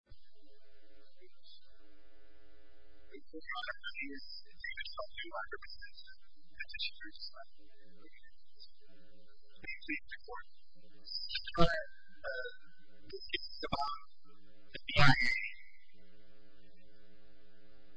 I'm going to talk to you about representation, and to show you just how important it is. Basically, it's important. This is a thread. It's about the CIA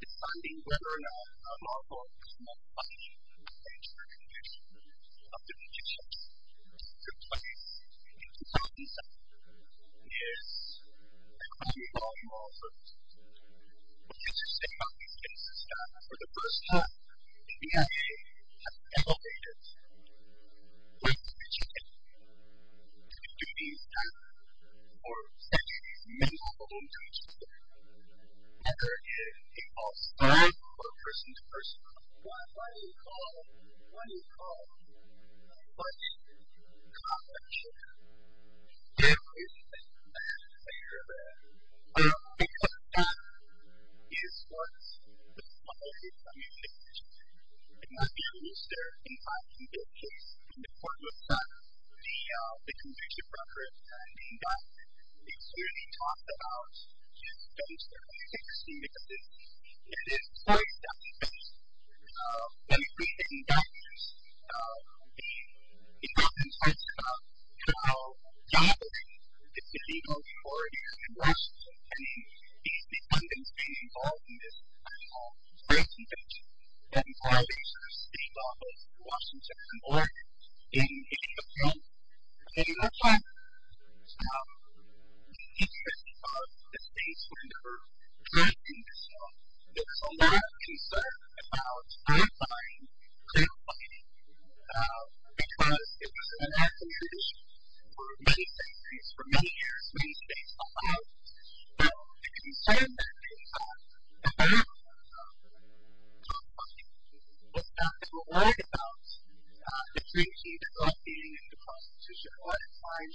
deciding whether or not a lawful criminal body claims the conviction of the victims. This is a good place to start. It's a common law in law enforcement. What's interesting about these cases is that, for the first time, the CIA has elevated what it can do. It can do these things, or send you these men all over the place. Whether it's a false start, or a person-to-person call. Or what do you call it? What do you call it? What do you call it? Conviction. There is a conviction there. Because that is what the society communicates. It might be a rooster, in my particular case, in the court of attacks. The conviction record, the indictment, it's really talked about. It's been studied extensively. It is important that, when presenting documents, the government talks about how jobless it is to be known for its endorsement. And these defendants being involved in this great convention, that requires a state office in Washington, or in the U.S.A. In that case, the interest of the statesmen to present these documents, there's a lot of concern about terrifying clear-cutting. Because it was an American tradition for many centuries, for many years, many states allowed it. But the concern that they had about clear-cutting was that they were worried about the creativity of the Constitution. A lot of times,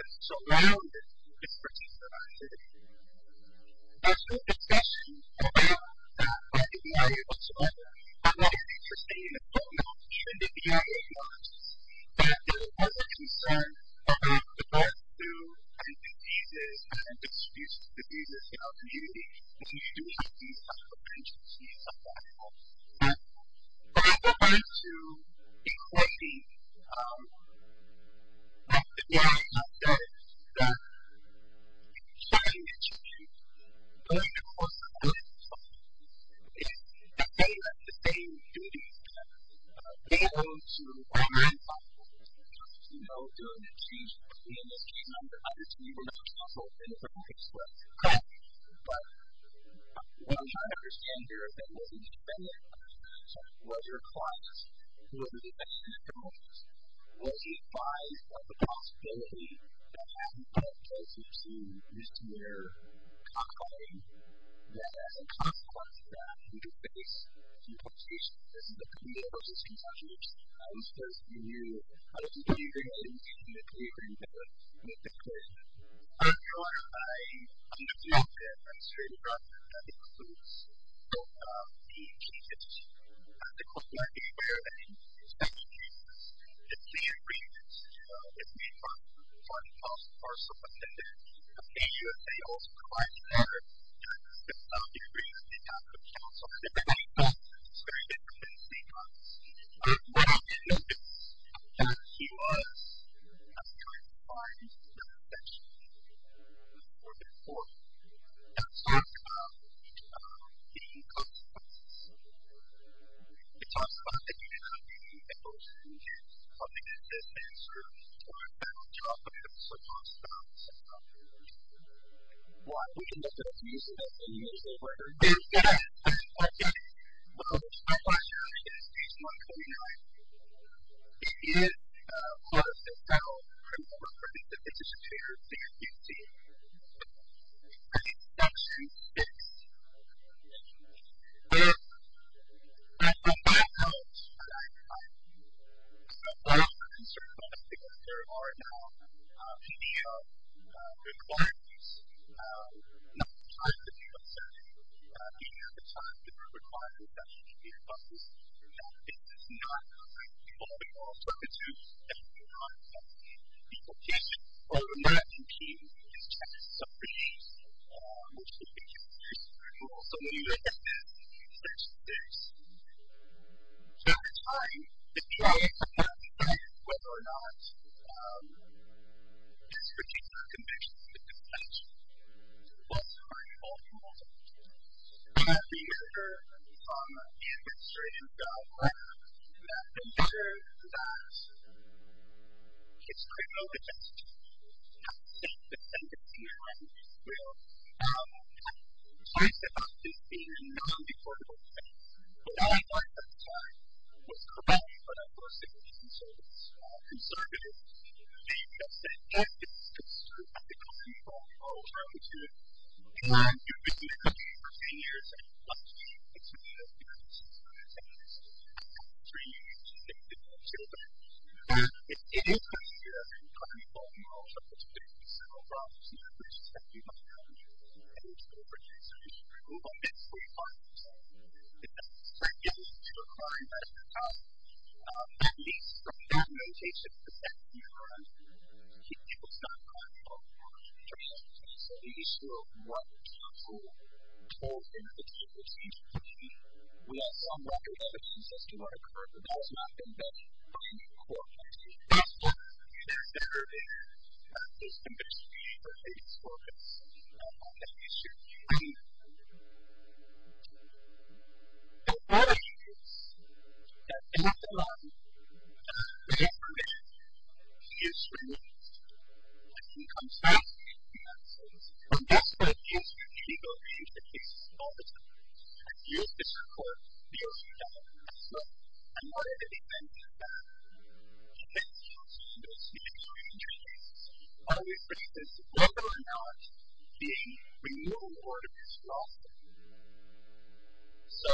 it's around this particular activity. There's some discussion about that by the BIA whatsoever. I'm not a statesman, and I don't know if it should be the BIA or not. But there was a concern about the birth through diseases and the distribution of diseases in our community. And we do have these type of agencies and platforms. But in regards to equality, like the BIA has said, that starting at your age, going to court, going to court, is the same duty that we owe to our grandfathers. You know, doing a case, being a case number, either to you or another counsel, in a certain case, was correct. But what I'm trying to understand here is that it wasn't the defendant such as Roger Clark who was a defense counsel. Was he advised of the possibility that having that case would seem misdemeanor, confining, that as a consequence, that he could face compensation. This is a community emergency concession, which I was supposed to be new. I was new to the community, and I was new to the community, and I was new to this case. I'm sure I understand that I'm straight across that the courts don't allow being cases. The court might be aware of any special cases. It's the agreements that may come from counsel or someone that appears to be also quite aware of the agreements they have with counsel. It's very different. It's very different because what I did notice was that he was trying to find compensation for the court. It talks about the offspots. It talks about the community and those communities coming into this and sort of destroying that whole geography. It also talks about some of the reasons why we can look at a case that's in the usual order. There's been a case which I was charged in case number 29. It is close to how I remember it to be. I think section 6 where there are concerns because there are now PDO requirements, not the time to do assess, and the time to do requirements that should be in place. This is not people we all talk to that do not assess. The petition or the mapping team has checked some of these most significant issues and we're also looking at that in section 6. So it's time to try to work out whether or not this particular conviction is complete. It's also very important to have the measure from the administrative guidelines that ensure that it's correct. I know that that's true. I have to say that I did see it when I was in school. I was advised about this being a non-reportable case, but all I learned at the time was correct for that person to be conservative. They just said yes, this is true. I think that's important for all children too. And I've been doing this for 10 years and it's one of the most important things I've ever seen. I have three children. It is hard to hear and it's hard to tell when you're also participating in several problems. It's hard to tell when you're in school for 10 years. We're only getting 45%. It's hard to get into a car and drive through town. That means from that notation the fact that you're on people's side of the law is very important. So the issue of what people told in the case seems to be where some record evidence seems to not occur. That has not been done by the court. That's why there's never been a system that has been focused on that issue. And the other issue is that in the law whenever a man is removed and he comes back from that place people change the way that system is used. The court used that as well. And part of the defense is that the case is always whether or not the removal order is lost. So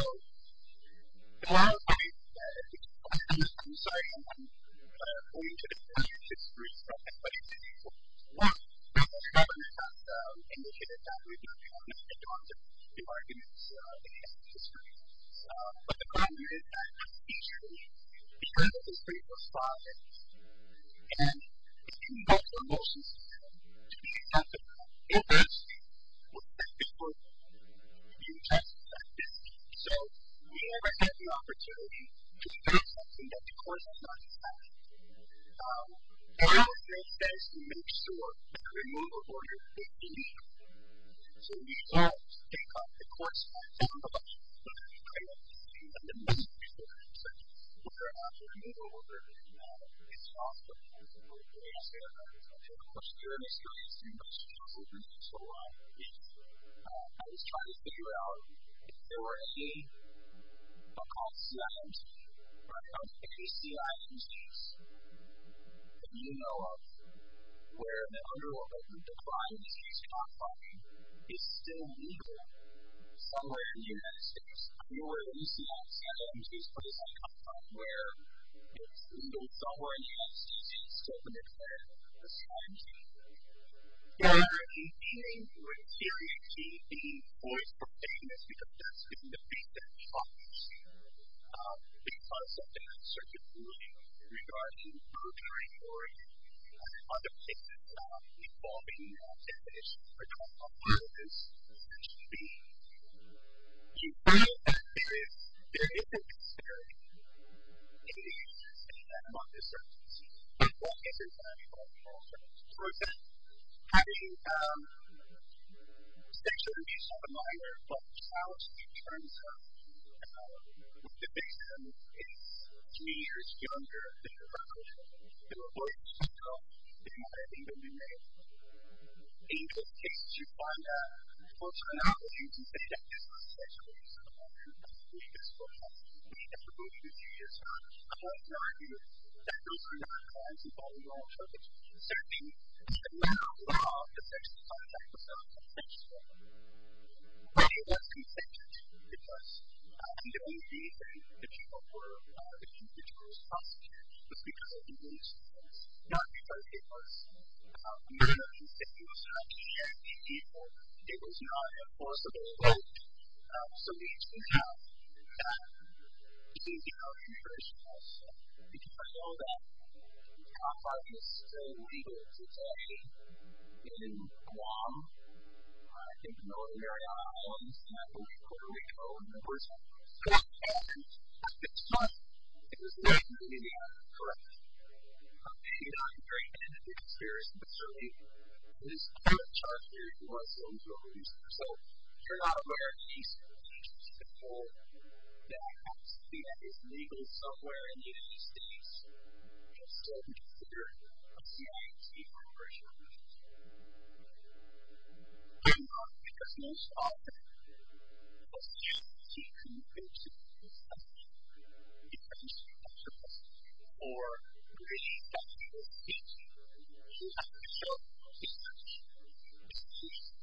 the law